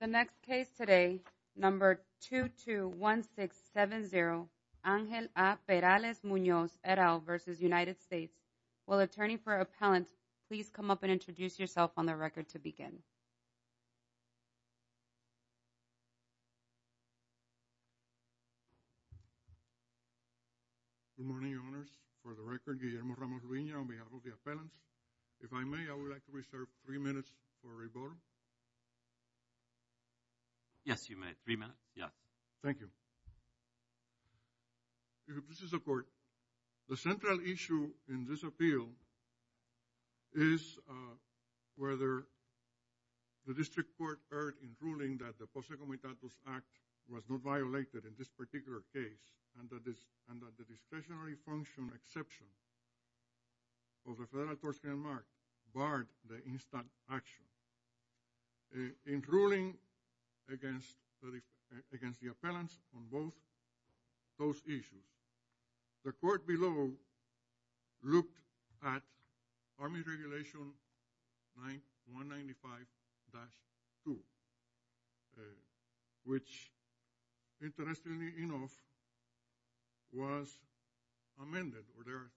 The next case today, number 221670, Angel A. Perales-Munoz, et al. v. United States. Will attorney for appellant please come up and introduce yourself on the record to begin? Good morning, your honors. For the record, Guillermo Ramos-Luiño on behalf of the appellants. If I may, I would like to reserve three minutes for rebuttal. Yes, you may. Three minutes. Yeah. Thank you. This is the court. The central issue in this appeal is whether the district court heard in ruling that the Posse Comitatus Act was not violated in this particular case and that the discretionary function exception of the Federal Torts of Denmark barred the instant action. In ruling against the appellants on both those issues, the court below looked at Army Regulation 195-2, which interestingly enough was amended, or there are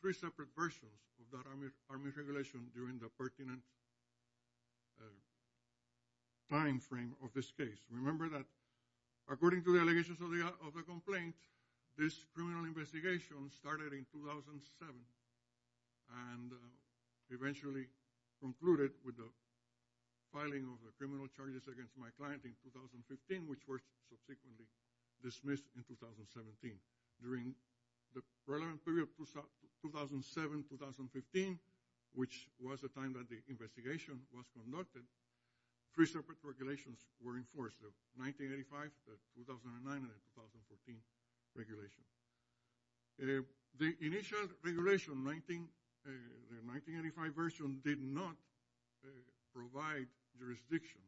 three separate versions of that Army Regulation during the pertinent time frame of this case. Remember that according to the allegations of the complaint, this criminal investigation started in 2007 and eventually concluded with the filing of the criminal charges against my client in 2015, which were subsequently dismissed in 2017. During the relevant period 2007-2015, which was the time that the investigation was conducted, three separate regulations were enforced, the 1985, the 2009, and the 2014 regulations. The initial regulation, the 1985 version, did not provide jurisdiction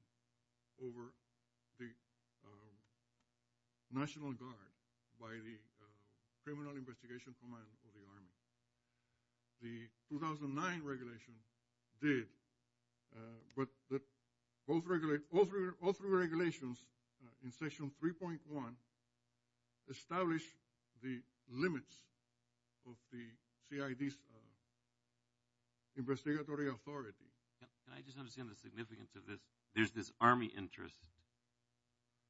over the National Guard by the Criminal Investigation Command of the Army. The 2009 regulation did, but all three regulations in Section 3.1 established the limits of the CID's investigatory authority. Can I just understand the significance of this? There's this Army interest,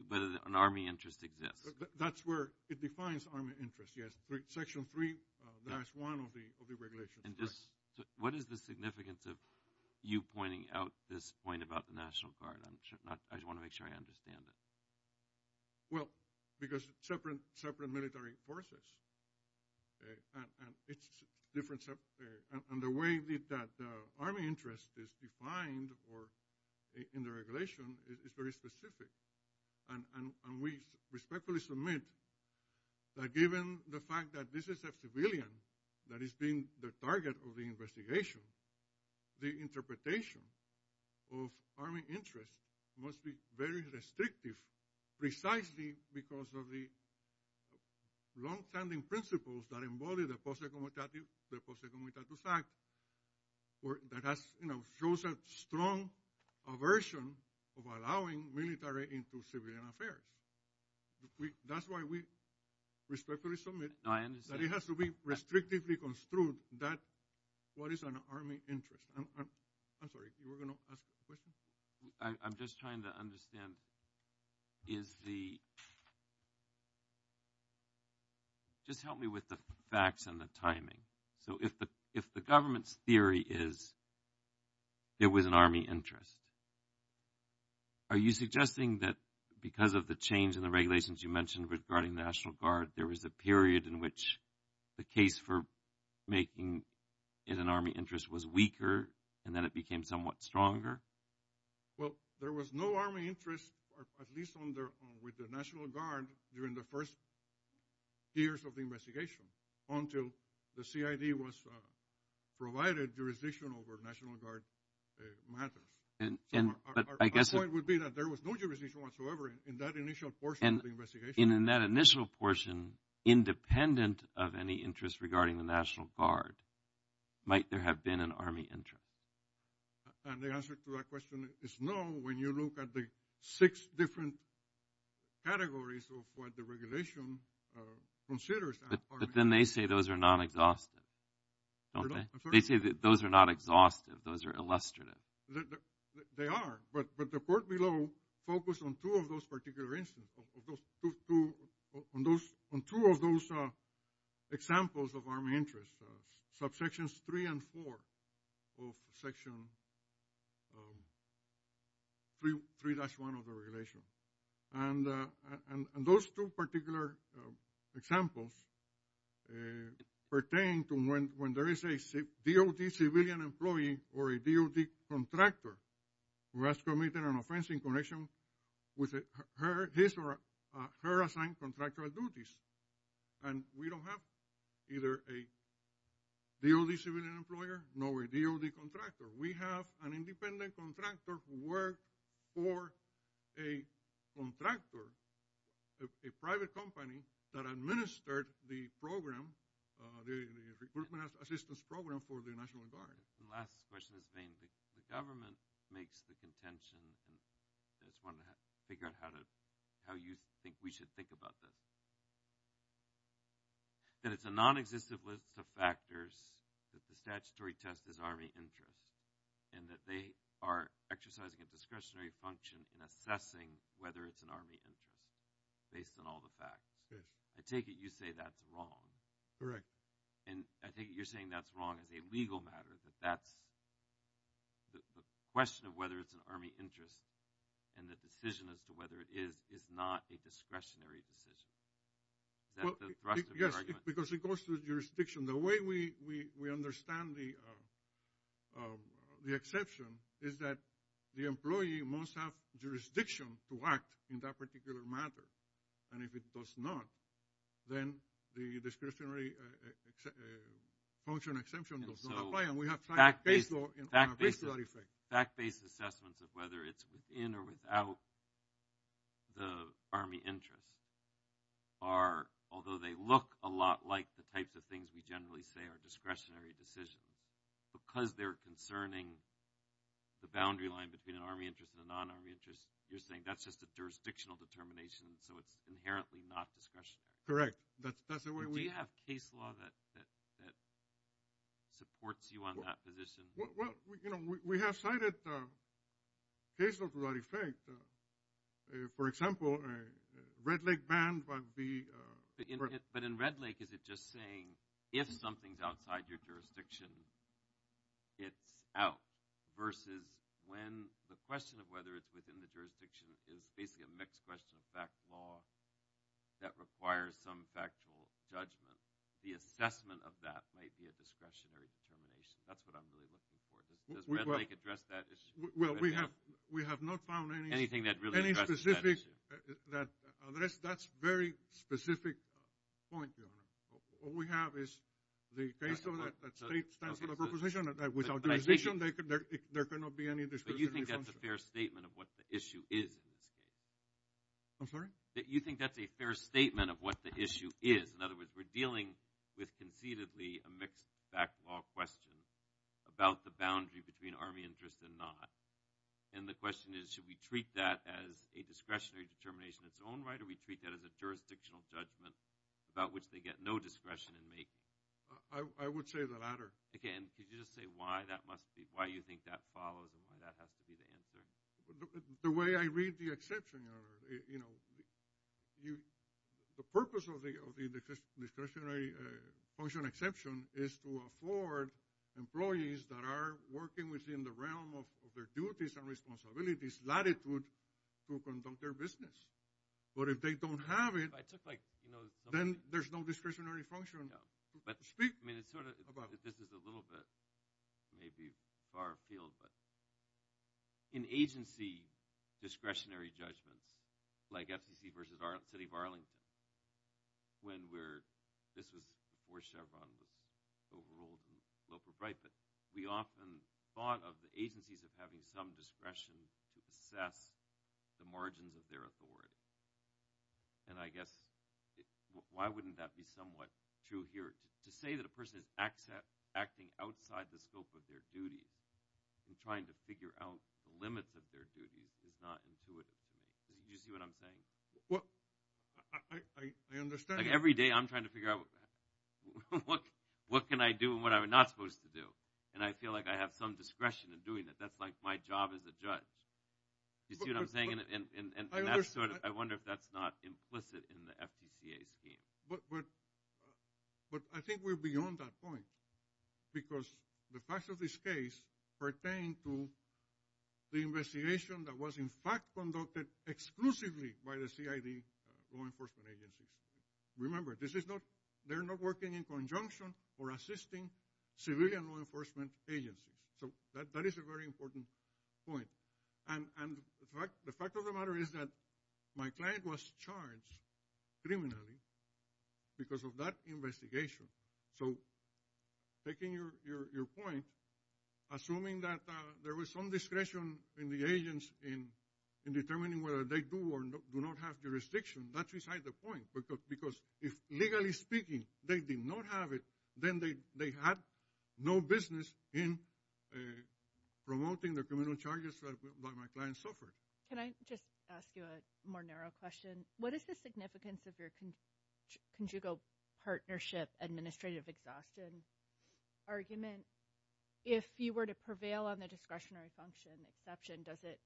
but an Army interest exists. That's where it defines Army interest, yes. Section 3, that's one of the regulations. What is the significance of you pointing out this point about the National Guard? I want to make sure I understand it. Well, because separate military forces and the way that Army interest is defined in the regulation is very specific. We respectfully submit that given the fact that this is a civilian that is being the target of the investigation, the interpretation of Army interest must be very restrictive precisely because of the longstanding principles that embody the Post-Executivist Act that shows a strong aversion of allowing military into civilian affairs. That's why we respectfully submit that it has to be restrictively construed that what is an Army interest. I'm sorry. You were going to ask a question? I'm just trying to understand is the – just help me with the facts and the timing. So if the government's theory is there was an Army interest, are you suggesting that because of the change in the regulations you mentioned regarding National Guard, there was a period in which the case for making it an Army interest was weaker and then it became somewhat stronger? Well, there was no Army interest, at least with the National Guard, during the first years of the investigation until the CID was provided jurisdiction over National Guard matters. But I guess it would be that there was no jurisdiction whatsoever in that initial portion of the investigation. And in that initial portion, independent of any interest regarding the National Guard, might there have been an Army interest? And the answer to that question is no when you look at the six different categories of what the regulation considers an Army interest. But then they say those are non-exhaustive, don't they? They say that those are not exhaustive. Those are illustrative. They are. But the report below focused on two of those particular instances, on two of those examples of Army interests, subsections three and four of section 3-1 of the regulation. And those two particular examples pertain to when there is a DoD civilian employee or a DoD contractor who has committed an offense in connection with his or her assigned contractual duties. And we don't have either a DoD civilian employer nor a DoD contractor. We have an independent contractor who worked for a contractor, a private company, that administered the program, the recruitment assistance program for the National Guard. The last question is vain. The government makes the contention, and I just wanted to figure out how you think we should think about this, that it's a non-existent list of factors that the statutory test is Army interest and that they are exercising a discretionary function in assessing whether it's an Army interest based on all the facts. I take it you say that's wrong. Correct. And I think you're saying that's wrong as a legal matter, that the question of whether it's an Army interest and the decision as to whether it is is not a discretionary decision. Is that the thrust of your argument? Yes, because it goes to jurisdiction. The way we understand the exception is that the employee must have jurisdiction to act in that particular matter. And if it does not, then the discretionary function exemption does not apply. Fact-based assessments of whether it's within or without the Army interest are, although they look a lot like the types of things we generally say are discretionary decisions, because they're concerning the boundary line between an Army interest and a non-Army interest, you're saying that's just a jurisdictional determination, so it's inherently not discretionary. Correct. Do you have case law that supports you on that position? Well, you know, we have cited case law to that effect. For example, Red Lake ban would be – But in Red Lake, is it just saying if something's outside your jurisdiction, it's out, versus when the question of whether it's within the jurisdiction is basically a mixed question of fact law that requires some factual judgment, the assessment of that might be a discretionary determination. That's what I'm really looking for. Does Red Lake address that issue? Well, we have not found any specific – Anything that really addresses that issue? That's a very specific point, Your Honor. What we have is the case law that states that's not a proposition. Without jurisdiction, there cannot be any discretionary function. But you think that's a fair statement of what the issue is in this case? I'm sorry? That you think that's a fair statement of what the issue is. In other words, we're dealing with conceitedly a mixed fact law question about the boundary between Army interest and not. And the question is should we treat that as a discretionary determination in its own right or we treat that as a jurisdictional judgment about which they get no discretion in making? I would say the latter. Okay, and could you just say why that must be – why you think that follows and why that has to be the answer? The way I read the exception, Your Honor, you know, the purpose of the discretionary function exception is to afford employees that are working within the realm of their duties and responsibilities latitude to conduct their business. But if they don't have it, then there's no discretionary function. I mean, it's sort of – this is a little bit maybe far afield, but in agency discretionary judgments like FCC versus City of Arlington, when we're – this was before Chevron was overruled and local right, but we often thought of the agencies of having some discretion to assess the margins of their authority. And I guess why wouldn't that be somewhat true here? To say that a person is acting outside the scope of their duty and trying to figure out the limits of their duties is not intuitive. Do you see what I'm saying? I understand. Every day I'm trying to figure out what can I do and what I'm not supposed to do, and I feel like I have some discretion in doing it. That's like my job as a judge. Do you see what I'm saying? And I wonder if that's not implicit in the FTCA scheme. But I think we're beyond that point because the facts of this case pertain to the investigation that was in fact conducted exclusively by the CID law enforcement agencies. Remember, this is not – they're not working in conjunction or assisting civilian law enforcement agencies. So that is a very important point. And the fact of the matter is that my client was charged criminally because of that investigation. So taking your point, assuming that there was some discretion in the agents in determining whether they do or do not have jurisdiction, that's beside the point because if, legally speaking, they did not have it, then they had no business in promoting the criminal charges that my client suffered. Can I just ask you a more narrow question? What is the significance of your conjugal partnership administrative exhaustion argument? If you were to prevail on the discretionary function exception, does it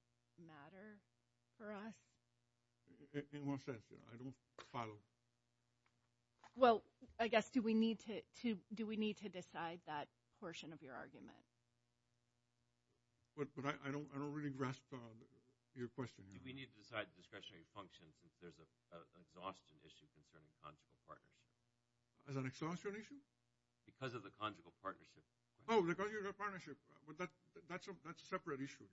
matter for us? In what sense? I don't follow. Well, I guess do we need to decide that portion of your argument? But I don't really grasp your question. Do we need to decide the discretionary function since there's an exhaustion issue concerning conjugal partnership? There's an exhaustion issue? Because of the conjugal partnership. Oh, the conjugal partnership. But that's a separate issue.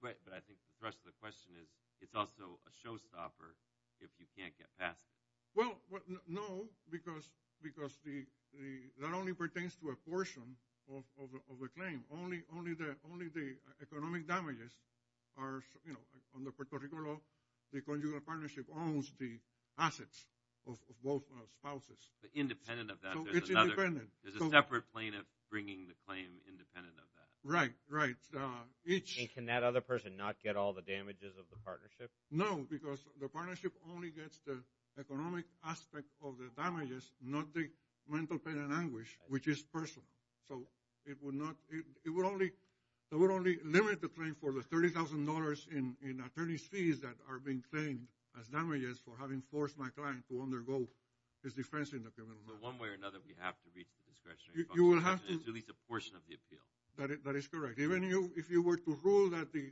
But I think the thrust of the question is it's also a showstopper if you can't get past it. Well, no, because that only pertains to a portion of the claim. Only the economic damages are, you know, on the Puerto Rico law, the conjugal partnership owns the assets of both spouses. Independent of that. It's independent. There's a separate plane of bringing the claim independent of that. Right, right. And can that other person not get all the damages of the partnership? No, because the partnership only gets the economic aspect of the damages, not the mental pain and anguish, which is personal. So it would only limit the claim for the $30,000 in attorney's fees that are being claimed as damages for having forced my client to undergo his defense in the criminal law. So one way or another, we have to reach the discretionary function exception to at least a portion of the appeal. That is correct. Even if you were to rule that the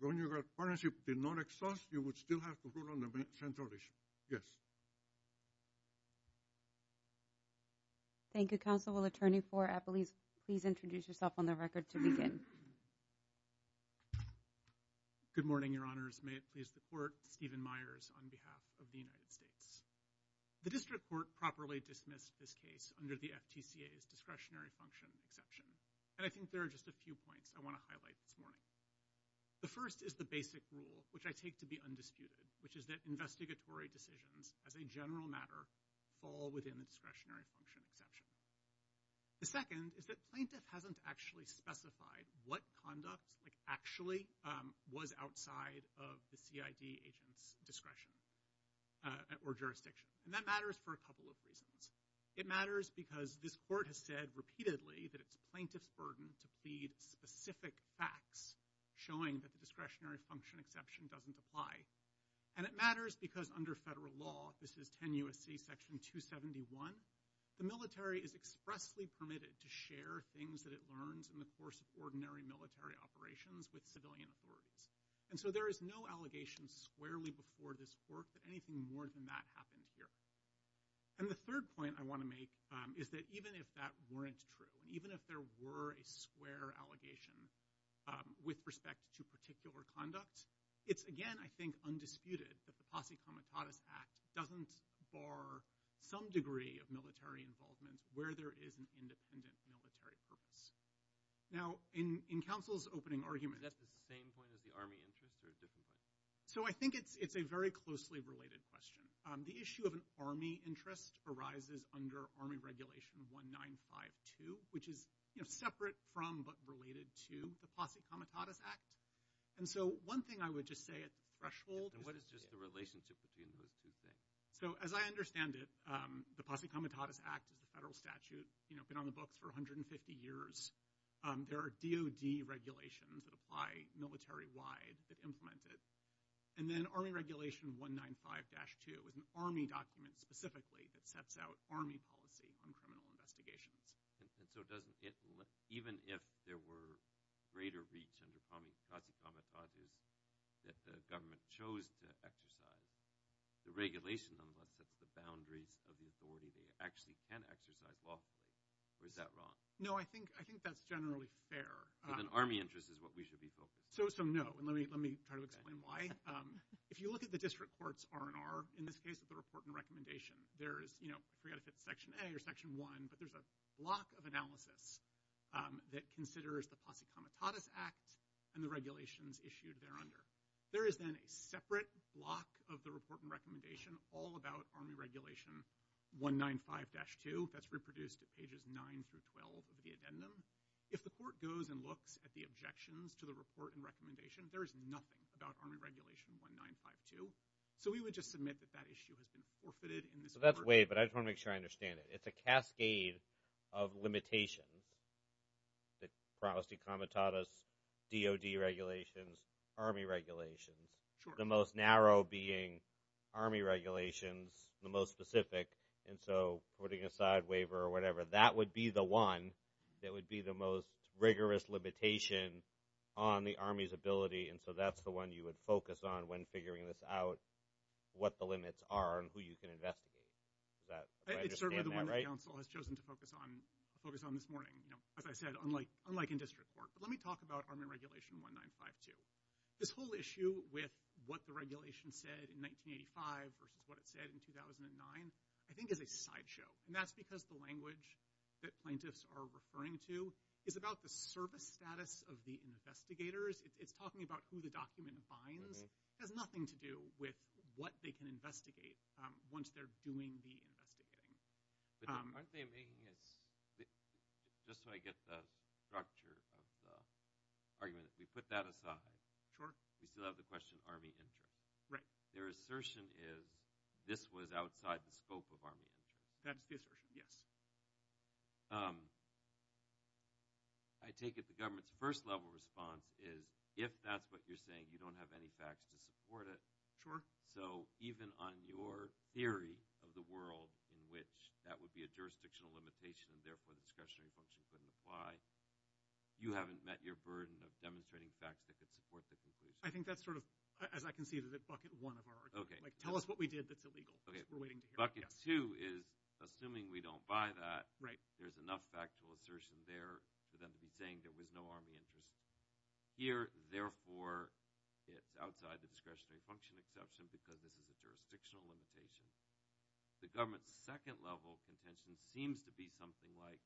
conjugal partnership did not exhaust, you would still have to rule on the central issue. Yes. Thank you, Counsel. Will Attorney for Apolice please introduce yourself on the record to begin? Good morning, Your Honors. May it please the Court, Stephen Myers on behalf of the United States. The district court properly dismissed this case under the FTCA's discretionary function exception. And I think there are just a few points I want to highlight this morning. The first is the basic rule, which I take to be undisputed, which is that investigatory decisions as a general matter fall within the discretionary function exception. The second is that plaintiff hasn't actually specified what conduct actually was outside of the CID agent's discretion or jurisdiction. And that matters for a couple of reasons. It matters because this court has said repeatedly that it's plaintiff's burden to plead specific facts showing that the discretionary function exception doesn't apply. And it matters because under federal law, this is 10 U.S.C. Section 271, the military is expressly permitted to share things that it learns in the course of ordinary military operations with civilian authorities. And so there is no allegation squarely before this court that anything more than that happened here. And the third point I want to make is that even if that weren't true, even if there were a square allegation with respect to particular conduct, it's again, I think, undisputed that the Posse Comitatus Act doesn't bar some degree of military involvement where there is an independent military purpose. Now, in counsel's opening argument- Is that the same point as the Army interest or a different point? So I think it's a very closely related question. The issue of an Army interest arises under Army Regulation 1952, which is separate from but related to the Posse Comitatus Act. And so one thing I would just say at threshold- And what is just the relationship between those two things? So as I understand it, the Posse Comitatus Act is the federal statute. It's been on the books for 150 years. There are DOD regulations that apply military-wide that implement it. And then Army Regulation 195-2 is an Army document specifically that sets out Army policy on criminal investigations. And so even if there were greater reach under Posse Comitatus under DOD is that the government chose to exercise the regulation on what's at the boundaries of the authority, they actually can exercise lawfully. Or is that wrong? No, I think that's generally fair. But an Army interest is what we should be focused on. So, so, no. And let me try to explain why. If you look at the district court's R&R, in this case at the report and recommendation, there is- I forget if it's Section A or Section 1, but there's a block of analysis that considers the Posse Comitatus Act and the regulations issued there under. There is then a separate block of the report and recommendation all about Army Regulation 195-2. That's reproduced at pages 9 through 12 of the addendum. If the court goes and looks at the objections to the report and recommendation, there is nothing about Army Regulation 195-2. So we would just submit that that issue has been forfeited in this court. So that's way, but I just want to make sure I understand it. It's a cascade of limitations. The Posse Comitatus, DOD regulations, Army regulations. The most narrow being Army regulations, the most specific. And so putting aside waiver or whatever, that would be the one that would be the most rigorous limitation on the Army's ability. And so that's the one you would focus on when figuring this out, what the limits are and who you can investigate. It's certainly the one that the council has chosen to focus on this morning. As I said, unlike in district court. But let me talk about Army Regulation 195-2. This whole issue with what the regulation said in 1985 versus what it said in 2009 I think is a sideshow. And that's because the language that plaintiffs are referring to is about the service status of the investigators. It's talking about who the document binds. It has nothing to do with what they can investigate once they're doing the investigating. Aren't they making it – just so I get the structure of the argument, if we put that aside, we still have the question of Army interest. Their assertion is this was outside the scope of Army interest. That's the assertion, yes. I take it the government's first level response is if that's what you're saying, you don't have any facts to support it. So even on your theory of the world in which that would be a jurisdictional limitation and therefore the discretionary function couldn't apply, you haven't met your burden of demonstrating facts that could support the conclusion. I think that's sort of, as I can see, the bucket one of our argument. Like tell us what we did that's illegal. Bucket two is assuming we don't buy that, there's enough factual assertion there for them to be saying there was no Army interest. Here, therefore, it's outside the discretionary function exception because this is a jurisdictional limitation. The government's second level contention seems to be something like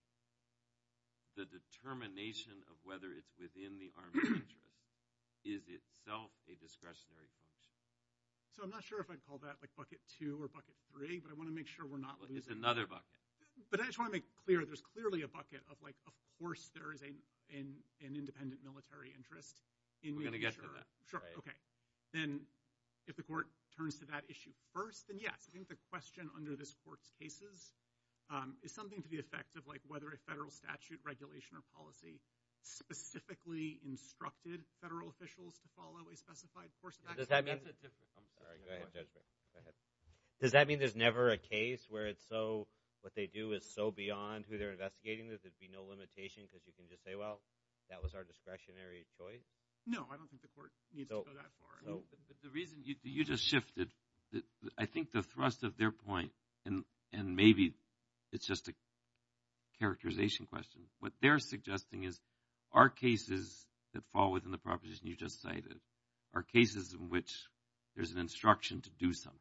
the determination of whether it's within the Army interest is itself a discretionary function. So I'm not sure if I'd call that like bucket two or bucket three, but I want to make sure we're not losing – It's another bucket. But I just want to make clear there's clearly a bucket of like, of course there is an independent military interest. We're going to get to that. Sure, okay. Then if the court turns to that issue first, then yes. I think the question under this court's cases is something to the effect of like whether a federal statute, regulation, or policy specifically instructed federal officials to follow a specified course of action. Does that mean – I'm sorry, go ahead, Judge Barrett. Does that mean there's never a case where it's so – what they do is so beyond who they're investigating that there'd be no limitation because you can just say, well, that was our discretionary choice? No, I don't think the court needs to go that far. The reason – you just shifted. I think the thrust of their point, and maybe it's just a characterization question, what they're suggesting is our cases that fall within the proposition you just cited are cases in which there's an instruction to do something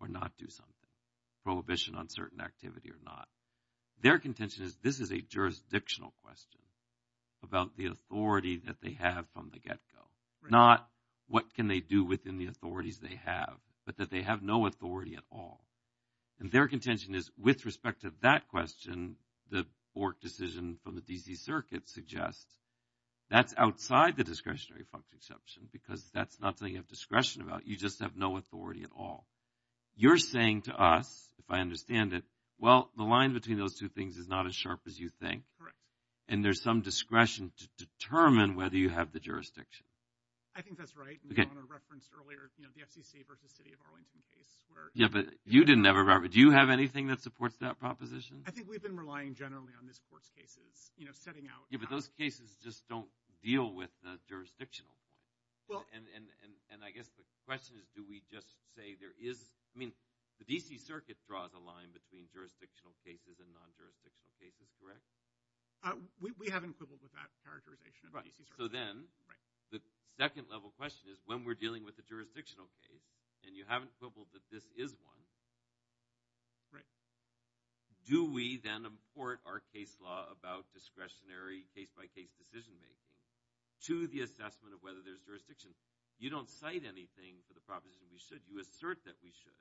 or not do something, prohibition on certain activity or not. Their contention is this is a jurisdictional question about the authority that they have from the get-go, not what can they do within the authorities they have, but that they have no authority at all. And their contention is with respect to that question, the Bork decision from the D.C. Circuit suggests that's outside the discretionary function exception because that's not something you have discretion about. You just have no authority at all. You're saying to us, if I understand it, well, the line between those two things is not as sharp as you think. And there's some discretion to determine whether you have the jurisdiction. I think that's right. You referenced earlier the FCC versus City of Arlington case. Yeah, but you didn't have a – do you have anything that supports that proposition? I think we've been relying generally on this court's cases, you know, setting out – Yeah, but those cases just don't deal with the jurisdictional point. And I guess the question is do we just say there is – I mean, the D.C. Circuit draws a line between jurisdictional cases and non-jurisdictional cases, correct? We haven't quibbled with that characterization of the D.C. Circuit. So then the second level question is when we're dealing with a jurisdictional case and you haven't quibbled that this is one, do we then import our case law about discretionary case-by-case decision-making to the assessment of whether there's jurisdiction? You don't cite anything for the proposition we should. You assert that we should.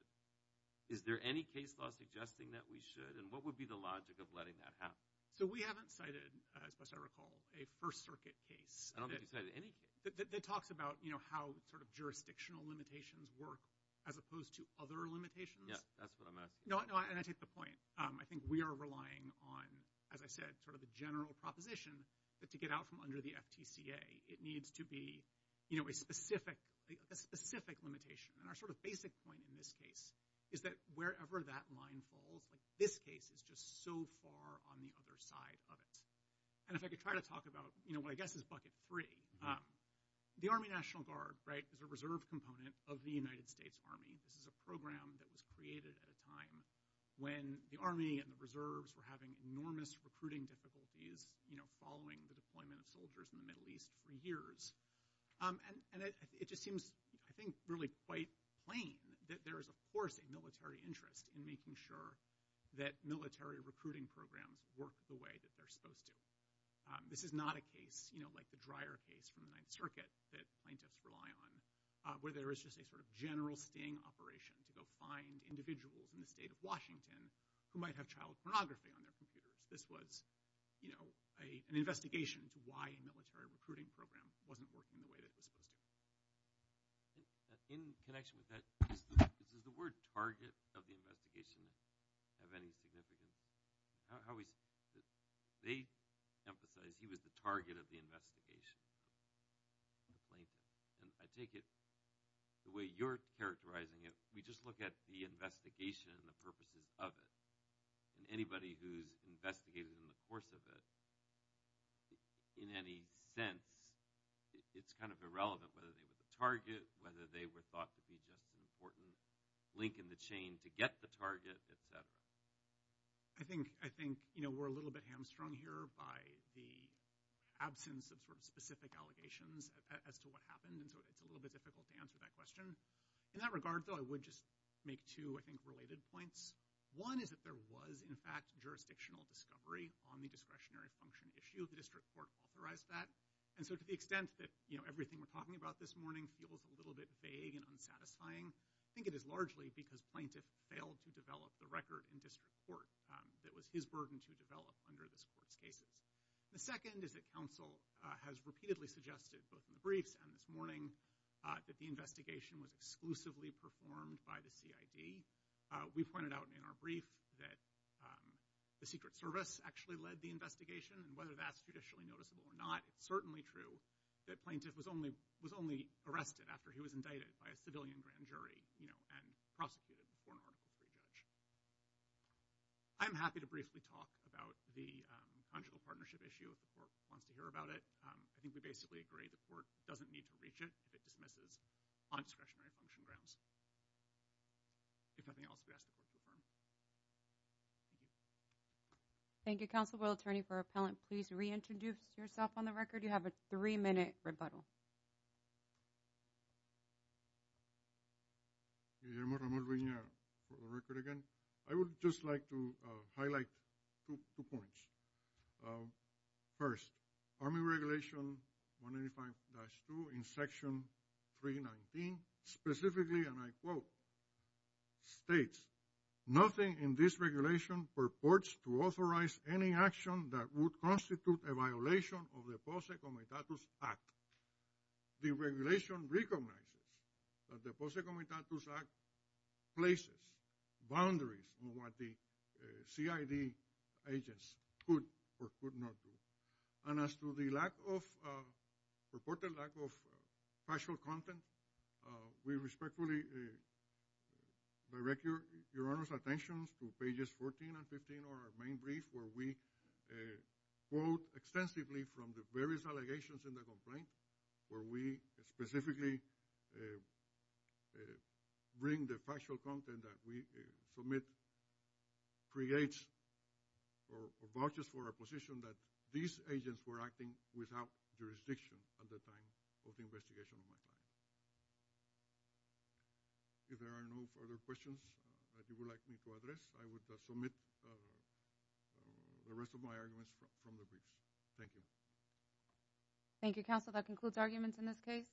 Is there any case law suggesting that we should? And what would be the logic of letting that happen? So we haven't cited, as best I recall, a First Circuit case. I don't think you cited any case. That talks about, you know, how sort of jurisdictional limitations work as opposed to other limitations. Yeah, that's what I'm asking. No, and I take the point. I think we are relying on, as I said, sort of the general proposition that to get out from under the FTCA it needs to be, you know, a specific limitation. And our sort of basic point in this case is that wherever that line falls, like this case is just so far on the other side of it. And if I could try to talk about, you know, what I guess is bucket three. The Army National Guard, right, is a reserve component of the United States Army. This is a program that was created at a time when the Army and the reserves were having enormous recruiting difficulties, you know, following the deployment of soldiers in the Middle East for years. And it just seems, I think, really quite plain that there is, of course, a military interest in making sure that military recruiting programs work the way that they're supposed to. This is not a case, you know, like the Dreyer case from the Ninth Circuit that plaintiffs rely on, where there is just a sort of general sting operation to go find individuals in the state of Washington who might have child pornography on their computers. This was, you know, an investigation into why a military recruiting program wasn't working the way that it was supposed to. In connection with that, is the word target of the investigation of any significance? How is it that they emphasize he was the target of the investigation? And I take it the way you're characterizing it, we just look at the investigation and the purposes of it. And anybody who's investigated in the course of it, in any sense, it's kind of irrelevant whether they were the target, whether they were thought to be just an important link in the chain to get the target, et cetera. I think, you know, we're a little bit hamstrung here by the absence of sort of specific allegations as to what happened, and so it's a little bit difficult to answer that question. In that regard, though, I would just make two, I think, related points. One is that there was, in fact, jurisdictional discovery on the discretionary function issue. The district court authorized that. And so to the extent that, you know, everything we're talking about this morning feels a little bit vague and unsatisfying, I think it is largely because plaintiff failed to develop the record in district court that was his burden to develop under this court's cases. The second is that counsel has repeatedly suggested, both in the briefs and this morning, that the investigation was exclusively performed by the CID. We pointed out in our brief that the Secret Service actually led the investigation, and whether that's judicially noticeable or not, it's certainly true that plaintiff was only arrested after he was indicted by a civilian grand jury, you know, and prosecuted before an article 3 judge. I'm happy to briefly talk about the conjugal partnership issue if the court wants to hear about it. I think we basically agree the court doesn't need to reach it if it dismisses on discretionary function grounds. If nothing else, we ask that the court be adjourned. Thank you, Counsel. Will Attorney for Appellant please reintroduce yourself on the record? You have a three-minute rebuttal. Guillermo Ramon Reina for the record again. I would just like to highlight two points. First, Army Regulation 185-2 in Section 319 specifically, and I quote, states, nothing in this regulation purports to authorize any action that would constitute a violation of the Posse Comitatus Act. The regulation recognizes that the Posse Comitatus Act places boundaries on what the CID agents could or could not do. And as to the lack of, reported lack of factual content, we respectfully direct Your Honor's attention to pages 14 and 15 of our main brief where we quote extensively from the various allegations in the complaint where we specifically bring the factual content that we submit creates or vouches for our position that these agents were acting without jurisdiction at the time of the investigation of my client. If there are no further questions that you would like me to address, I would submit the rest of my arguments from the briefs. Thank you. Thank you, Counsel. That concludes arguments in this case.